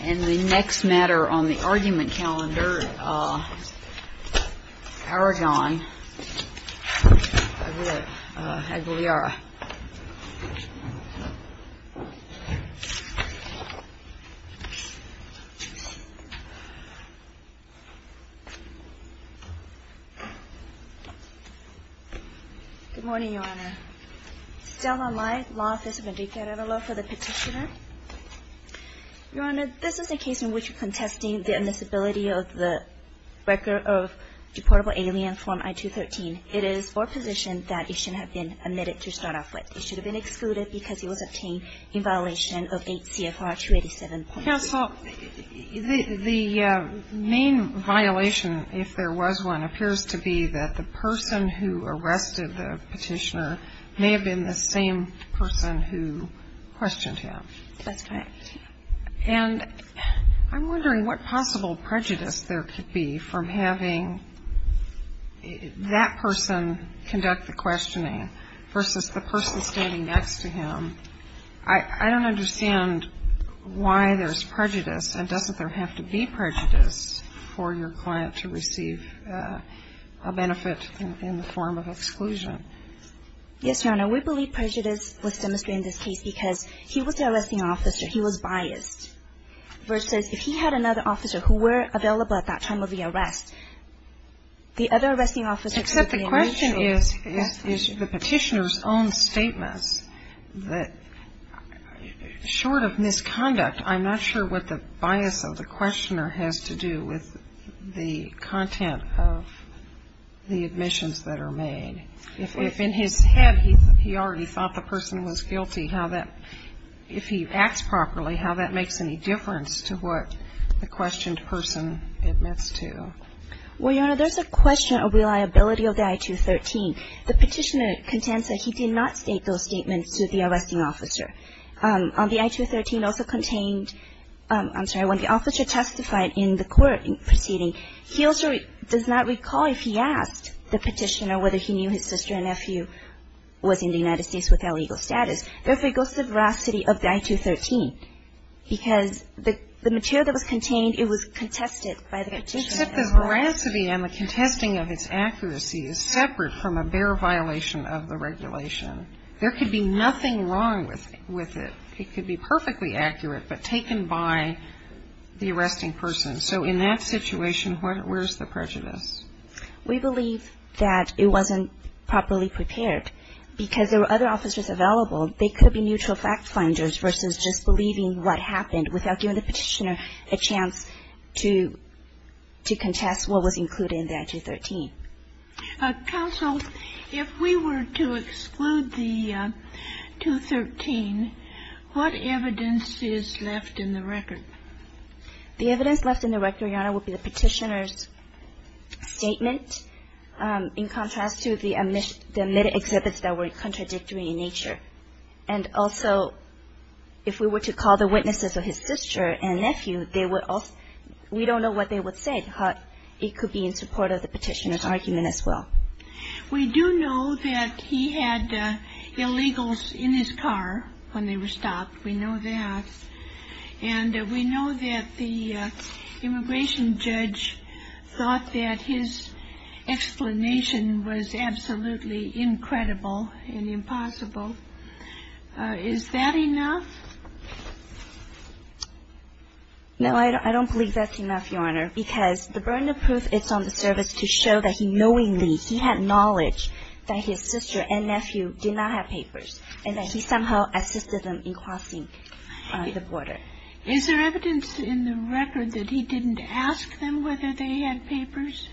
And the next matter on the argument calendar, Aragon-Aguilera. Good morning, Your Honor. Stella Light, Law Office of Indica. I have a law for the petitioner. Your Honor, this is a case in which we're contesting the admissibility of the record of deportable alien form I-213. It is for a position that it should have been admitted to start off with. It should have been excluded because it was obtained in violation of 8 CFR 287. Counsel, the main violation, if there was one, appears to be that the person who arrested the petitioner may have been the same person who questioned him. That's correct. And I'm wondering what possible prejudice there could be from having that person conduct the questioning versus the person standing next to him. I don't understand why there's prejudice. And doesn't there have to be prejudice for your client to receive a benefit in the form of exclusion? Yes, Your Honor. We believe prejudice was demonstrated in this case because he was the arresting officer. He was biased. Versus if he had another officer who were available at that time of the arrest, the other arresting officer could be a mutual. The question is, is the petitioner's own statements that, short of misconduct, I'm not sure what the bias of the questioner has to do with the content of the admissions that are made. If in his head he already thought the person was guilty, how that, if he acts properly, how that makes any difference to what the questioned person admits to. Well, Your Honor, there's a question of reliability of the I-213. The petitioner contends that he did not state those statements to the arresting officer. The I-213 also contained, I'm sorry, when the officer testified in the court proceeding, he also does not recall if he asked the petitioner whether he knew his sister and nephew was in the United States with their legal status. Therefore, it goes to the veracity of the I-213 because the material that was contained, it was contested by the petitioner. And so if the veracity and the contesting of its accuracy is separate from a bare violation of the regulation, there could be nothing wrong with it. It could be perfectly accurate, but taken by the arresting person. So in that situation, where's the prejudice? We believe that it wasn't properly prepared because there were other officers available. They could be mutual fact finders versus just believing what happened without giving the petitioner a chance to contest what was included in the I-213. Counsel, if we were to exclude the 213, what evidence is left in the record? The evidence left in the record, Your Honor, would be the petitioner's statement, in contrast to the admitted exhibits that were contradictory in nature. And also, if we were to call the witnesses of his sister and nephew, they would also ‑‑ we don't know what they would say. It could be in support of the petitioner's argument as well. We do know that he had illegals in his car when they were stopped. We know that. And we know that the immigration judge thought that his explanation was absolutely incredible and impossible. Is that enough? No, I don't believe that's enough, Your Honor, because the burden of proof is on the service to show that he knowingly, he had knowledge that his sister and nephew did not have papers and that he somehow assisted them in crossing the border. Is there evidence in the record that he didn't ask them whether they had papers?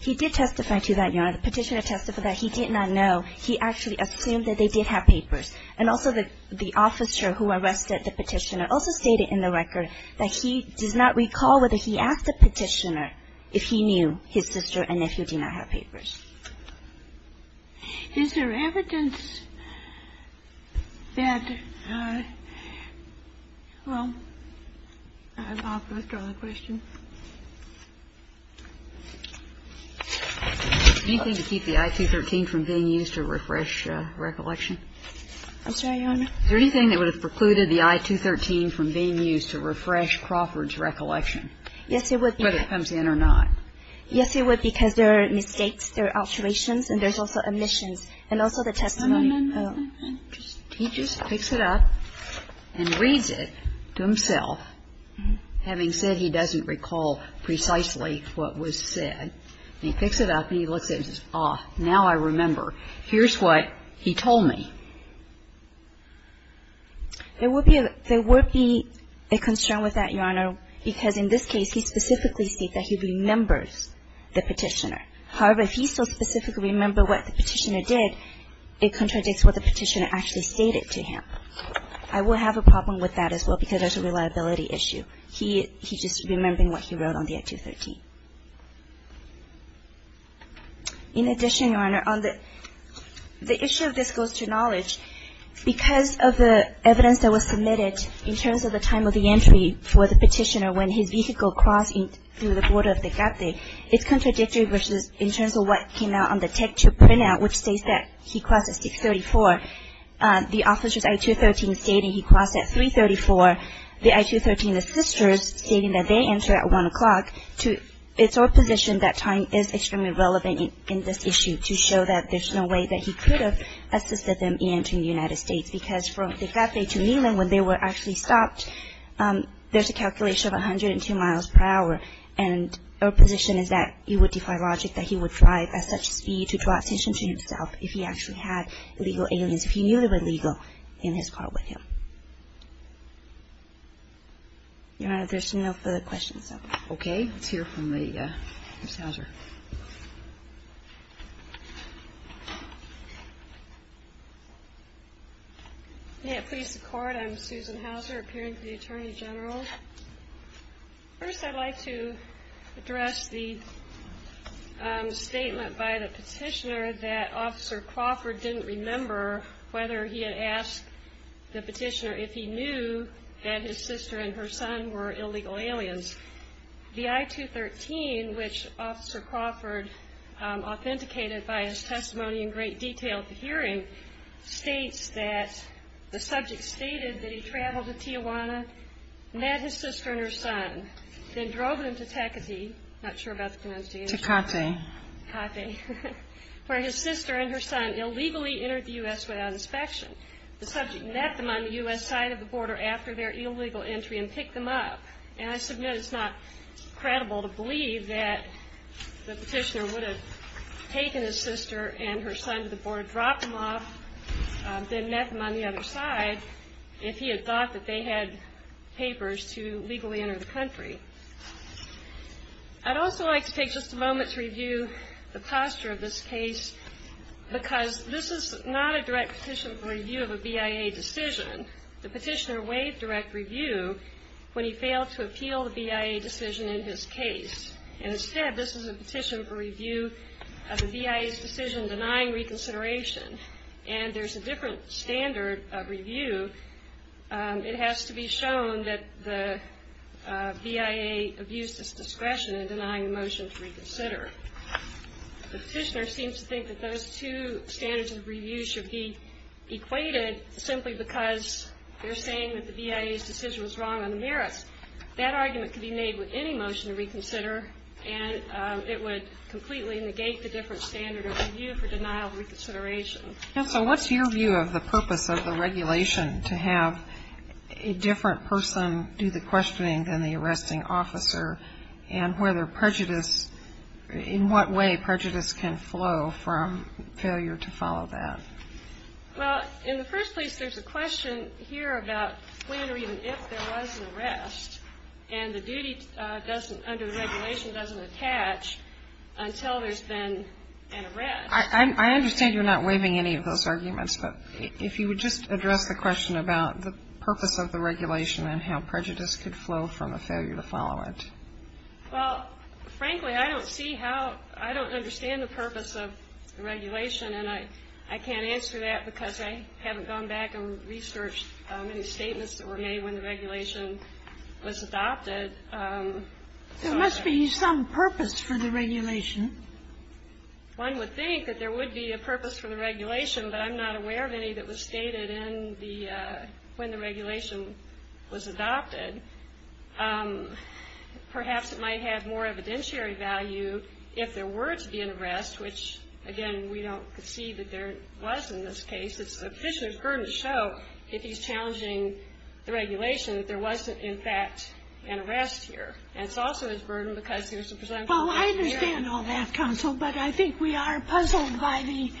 He did testify to that, Your Honor. The petitioner testified that he did not know. He actually assumed that they did have papers. And also, the officer who arrested the petitioner also stated in the record that he does not recall whether he asked the petitioner if he knew his sister and nephew did not have papers. Is there evidence that, well, I'll withdraw the question. Anything to keep the I-213 from being used to refresh recollection? I'm sorry, Your Honor? Is there anything that would have precluded the I-213 from being used to refresh Crawford's recollection? Yes, there would be. Whether it comes in or not. Yes, it would, because there are mistakes, there are alterations, and there's also omissions. And also the testimony. No, no, no, no. He just picks it up and reads it to himself, having said he doesn't recall precisely what was said. And he picks it up and he looks at it and says, oh, now I remember. Here's what he told me. There would be a concern with that, Your Honor, because in this case he specifically states that he remembers the petitioner. However, if he so specifically remembers what the petitioner did, it contradicts what the petitioner actually stated to him. I will have a problem with that as well, because that's a reliability issue. He's just remembering what he wrote on the I-213. In addition, Your Honor, on the issue of this goes to knowledge, because of the evidence that was submitted in terms of the time of the entry for the petitioner when his vehicle crossed through the border of Degate, it's contradictory versus in terms of what came out on the TechTube printout, which states that he crossed at 634. The officer's I-213 stating he crossed at 334. The I-213 assisters stating that they entered at 1 o'clock. It's our position that time is extremely relevant in this issue to show that there's no way that he could have assisted them in entering the United States, because from Degate to Neyland, when they were actually stopped, there's a calculation of 102 miles per hour, and our position is that it would defy logic that he would drive at such speed to draw attention to himself if he actually had illegal aliens, if he knew they were legal, in his car with him. Your Honor, there's no further questions. Okay, let's hear from Ms. Hauser. May it please the Court, I'm Susan Hauser, appearing to the Attorney General. First, I'd like to address the statement by the petitioner that Officer Crawford didn't remember whether he had asked the petitioner if he knew that his sister and her son were illegal aliens. The I-213, which Officer Crawford authenticated by his testimony in great detail at the hearing, states that the subject stated that he traveled to Tijuana, met his sister and her son, then drove them to Tecate, not sure about the pronunciation. Tecate. Tecate, where his sister and her son illegally entered the U.S. without inspection. The subject met them on the U.S. side of the border after their illegal entry and picked them up. And I submit it's not credible to believe that the petitioner would have taken his sister and her son to the border, dropped them off, then met them on the other side if he had thought that they had papers to legally enter the country. I'd also like to take just a moment to review the posture of this case because this is not a direct petition for review of a BIA decision. The petitioner waived direct review when he failed to appeal the BIA decision in his case. And instead, this is a petition for review of the BIA's decision denying reconsideration. And there's a different standard of review. It has to be shown that the BIA abused its discretion in denying the motion to reconsider. The petitioner seems to think that those two standards of review should be equated simply because they're saying that the BIA's decision was wrong on the merits. That argument could be made with any motion to reconsider, and it would completely negate the different standard of review for denial of reconsideration. Counsel, what's your view of the purpose of the regulation to have a different person do the questioning than the arresting officer and whether prejudice, in what way prejudice can flow from failure to follow that? Well, in the first place, there's a question here about when or even if there was an arrest, and the duty under the regulation doesn't attach until there's been an arrest. I understand you're not waiving any of those arguments, but if you would just address the question about the purpose of the regulation and how prejudice could flow from a failure to follow it. Well, frankly, I don't see how — I don't understand the purpose of the regulation, and I can't answer that because I haven't gone back and researched any statements that were made when the regulation was adopted. There must be some purpose for the regulation. One would think that there would be a purpose for the regulation, but I'm not aware of any that was stated when the regulation was adopted. Perhaps it might have more evidentiary value if there were to be an arrest, which, again, we don't see that there was in this case. It's the officer's burden to show if he's challenging the regulation that there wasn't, in fact, an arrest here. And it's also his burden because there's a presumption. Well, I understand all that, counsel, but I think we are puzzled by the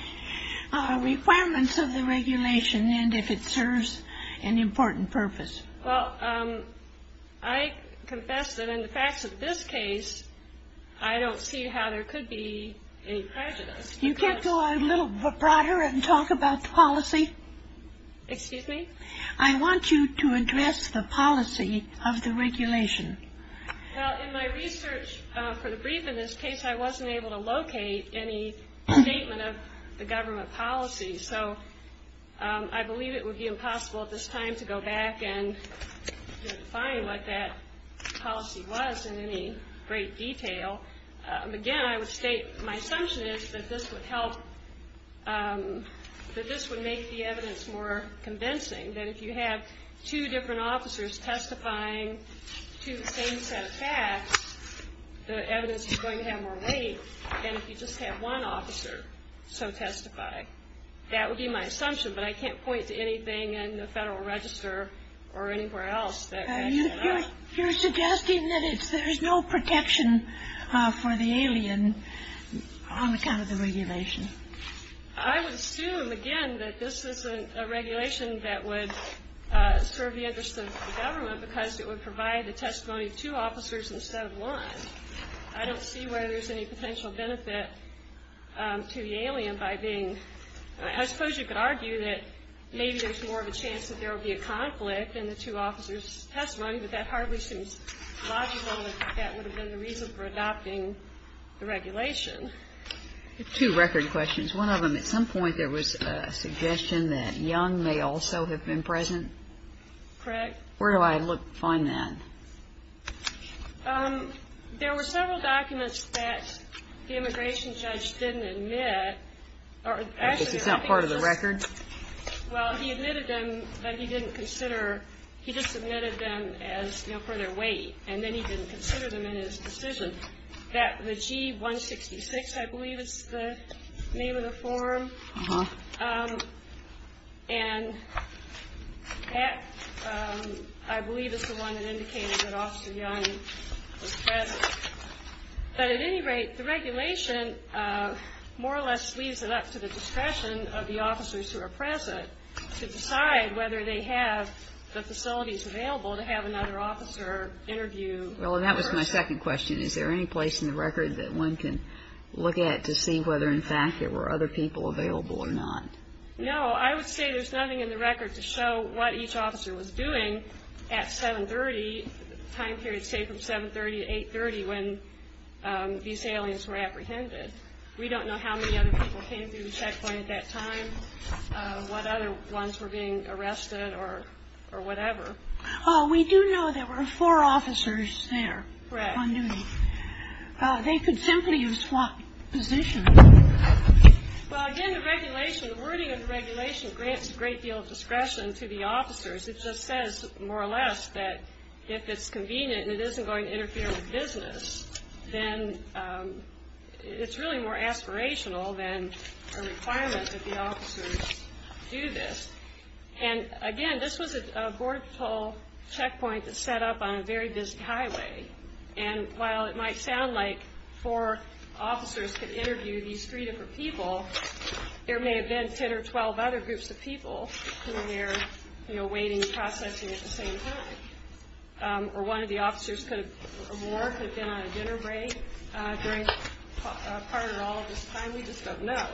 requirements of the regulation and if it serves an important purpose. Well, I confess that in the facts of this case, I don't see how there could be any prejudice. You can't go a little broader and talk about policy? Excuse me? I want you to address the policy of the regulation. Well, in my research for the brief in this case, I wasn't able to locate any statement of the government policy, so I believe it would be impossible at this time to go back and define what that policy was in any great detail. Again, I would state my assumption is that this would help, that this would make the evidence more convincing, that if you have two different officers testifying to the same set of facts, the evidence is going to have more weight than if you just have one officer so testify. That would be my assumption, but I can't point to anything in the Federal Register or anywhere else. You're suggesting that there's no protection for the alien on account of the regulation? I would assume, again, that this isn't a regulation that would serve the interests of the government because it would provide the testimony of two officers instead of one. I don't see where there's any potential benefit to the alien by being, I suppose you could argue that maybe there's more of a chance that there would be a conflict in the two officers' testimony, but that hardly seems logical that that would have been the reason for adopting the regulation. Two record questions. One of them, at some point there was a suggestion that Young may also have been present? Correct. Where do I find that? There were several documents that the immigration judge didn't admit. It's not part of the record? Well, he admitted them, but he didn't consider, he just submitted them as, you know, for their weight, and then he didn't consider them in his decision. The G-166, I believe, is the name of the form, and that, I believe, is the one that indicated that Officer Young was present. But at any rate, the regulation more or less leaves it up to the discretion of the officers who are present to decide whether they have the facilities available to have another officer interview. Well, that was my second question. Is there any place in the record that one can look at to see whether, in fact, there were other people available or not? No. I would say there's nothing in the record to show what each officer was doing at 730, the time period, say, from 730 to 830, when these aliens were apprehended. We don't know how many other people came through the checkpoint at that time, what other ones were being arrested or whatever. Oh, we do know there were four officers there on duty. Correct. They could simply have swapped positions. Well, again, the regulation, the wording of the regulation grants a great deal of discretion to the officers. It just says, more or less, that if it's convenient and it isn't going to interfere with business, then it's really more aspirational than a requirement that the officers do this. And, again, this was a border patrol checkpoint that's set up on a very busy highway, and while it might sound like four officers could interview these three different people, there may have been 10 or 12 other groups of people who were waiting and processing at the same time, or one of the officers could have been on a dinner break during part or all of this time. We just don't know.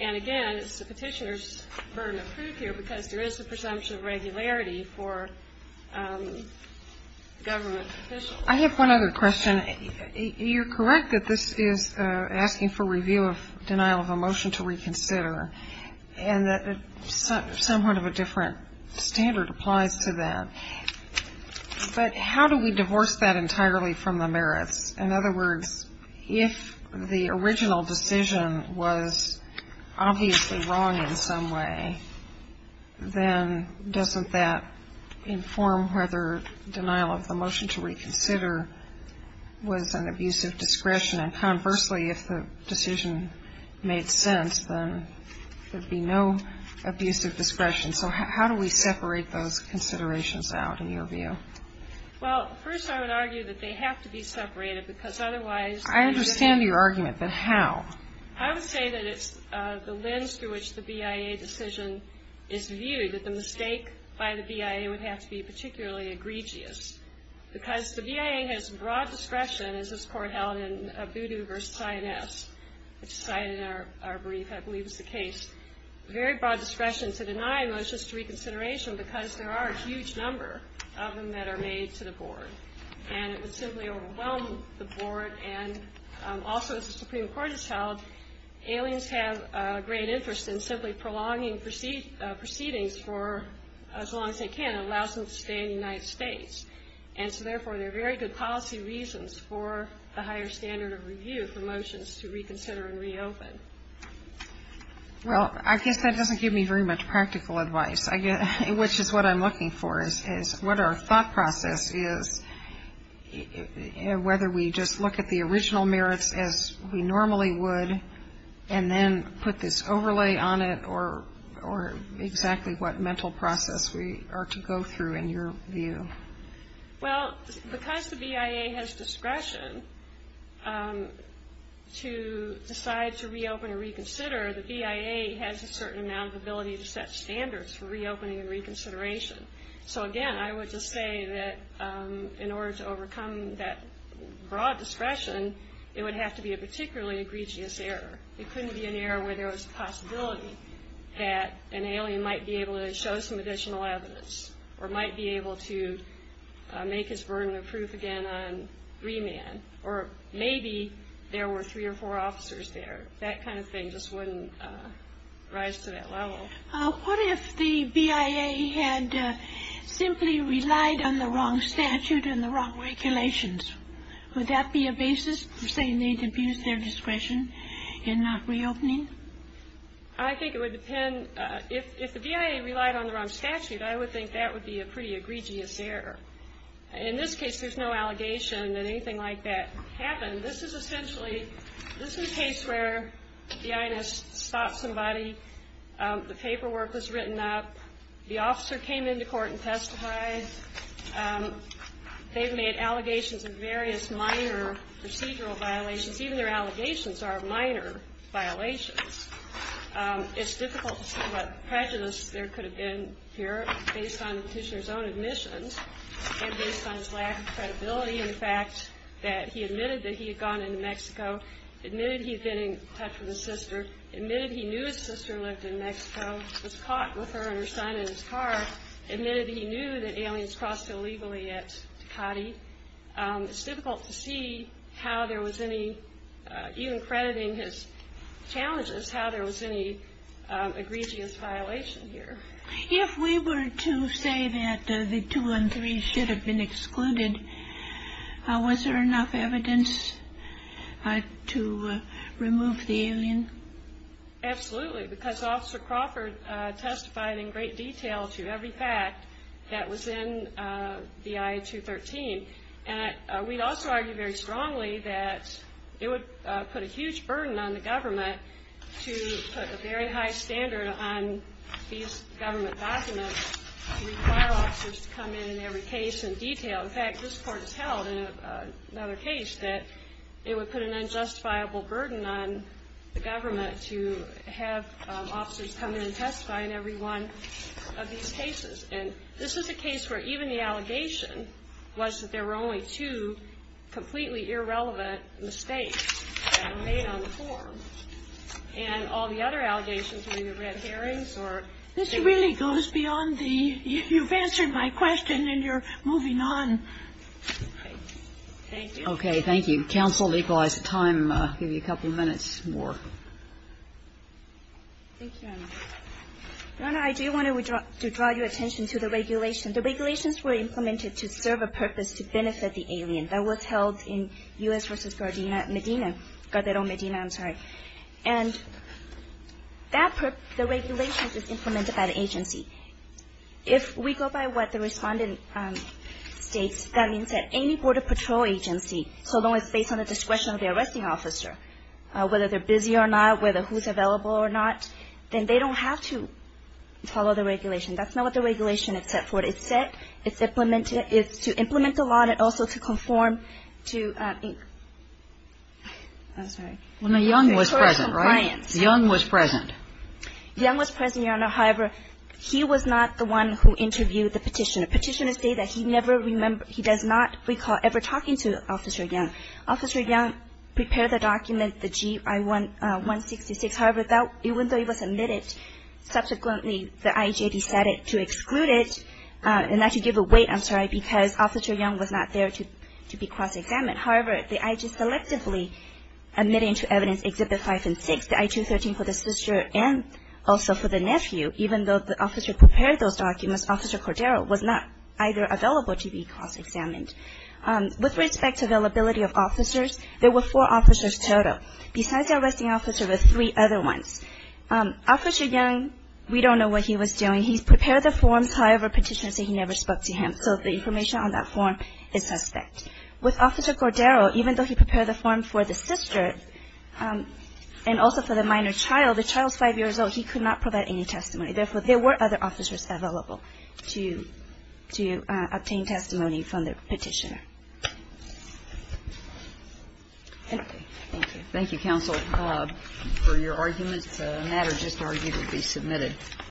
And, again, it's the Petitioner's burden of proof here because there is the presumption of regularity for government officials. I have one other question. You're correct that this is asking for review of denial of a motion to reconsider, and that somewhat of a different standard applies to that. But how do we divorce that entirely from the merits? In other words, if the original decision was obviously wrong in some way, then doesn't that inform whether denial of the motion to reconsider was an abuse of discretion? And, conversely, if the decision made sense, then there would be no abuse of discretion. So how do we separate those considerations out, in your view? Well, first I would argue that they have to be separated because otherwise they would be different. I understand your argument, but how? I would say that it's the lens through which the BIA decision is viewed, that the mistake by the BIA would have to be particularly egregious because the BIA has broad discretion, as this Court held in Abudu v. Sioness, which is cited in our brief, I believe is the case, very broad discretion to deny motions to reconsideration because there are a huge number of them that are made to the Board. And it would simply overwhelm the Board. And also, as the Supreme Court has held, aliens have a great interest in simply prolonging proceedings for as long as they can and allows them to stay in the United States. And so, therefore, there are very good policy reasons for the higher standard of review for motions to reconsider and reopen. Well, I guess that doesn't give me very much practical advice, which is what I'm looking for is what our thought process is, whether we just look at the original merits as we normally would and then put this overlay on it, or exactly what mental process we are to go through in your view. Well, because the BIA has discretion to decide to reopen and reconsider, the BIA has a certain amount of ability to set standards for reopening and reconsideration. So, again, I would just say that in order to overcome that broad discretion, it would have to be a particularly egregious error. It couldn't be an error where there was a possibility that an alien might be able to show some additional evidence or might be able to make his burden of proof again on three men or maybe there were three or four officers there. That kind of thing just wouldn't rise to that level. What if the BIA had simply relied on the wrong statute and the wrong regulations? Would that be a basis for saying they abused their discretion in reopening? I think it would depend. If the BIA relied on the wrong statute, I would think that would be a pretty egregious error. In this case, there's no allegation that anything like that happened. This is essentially, this is a case where the INS stopped somebody. The paperwork was written up. The officer came into court and testified. They've made allegations of various minor procedural violations. Even their allegations are minor violations. It's difficult to see what prejudice there could have been here based on Kuchner's own admissions and based on his lack of credibility and the fact that he admitted that he had gone into Mexico, admitted he had been in touch with his sister, admitted he knew his sister lived in Mexico, was caught with her and her son in his car, admitted he knew that aliens crossed illegally at Ducati. It's difficult to see how there was any, even crediting his challenges, how there was any egregious violation here. If we were to say that the 213 should have been excluded, was there enough evidence to remove the alien? Absolutely, because Officer Crawford testified in great detail to every fact that was in the I-213. And we'd also argue very strongly that it would put a huge burden on the government to put a very high standard on these government documents to require officers to come in in every case in detail. In fact, this court has held in another case that it would put an unjustifiable burden on the government to have officers come in and testify in every one of these cases. And this is a case where even the allegation was that there were only two completely irrelevant mistakes that were made on the form. And all the other allegations were either red herrings or things like that. You've answered my question, and you're moving on. Okay. Thank you. Okay. Thank you. Counsel, we've lost time. I'll give you a couple of minutes more. Thank you, Your Honor. Your Honor, I do want to draw your attention to the regulation. The regulations were implemented to serve a purpose to benefit the alien. That was held in U.S. v. Medina, Gardero, Medina, I'm sorry. And the regulations were implemented by the agency. If we go by what the respondent states, that means that any Border Patrol agency, so long as it's based on the discretion of the arresting officer, whether they're busy or not, whether who's available or not, then they don't have to follow the regulation. That's not what the regulation is set for. It's set to implement the law and also to conform to, I'm sorry. Well, Young was present, right? Young was present. Young was present, Your Honor. However, he was not the one who interviewed the petitioner. Petitioners say that he never remembers, he does not recall ever talking to Officer Young. Officer Young prepared the document, the GI-166. However, even though he was admitted, subsequently the IEJ decided to exclude it and to give it away, I'm sorry, because Officer Young was not there to be cross-examined. However, the IEJ selectively admitted to evidence Exhibit 5 and 6, the I-213 for the sister and also for the nephew. Even though the officer prepared those documents, Officer Gardero was not either available to be cross-examined. With respect to availability of officers, there were four officers total. Besides the arresting officer, there were three other ones. Officer Young, we don't know what he was doing. He prepared the forms. However, petitioners say he never spoke to him. So the information on that form is suspect. With Officer Gardero, even though he prepared the form for the sister and also for the minor child, the child is five years old. He could not provide any testimony. Therefore, there were other officers available to obtain testimony from the petitioner. Thank you. Thank you. Thank you, counsel, for your arguments. The matter just argued will be submitted.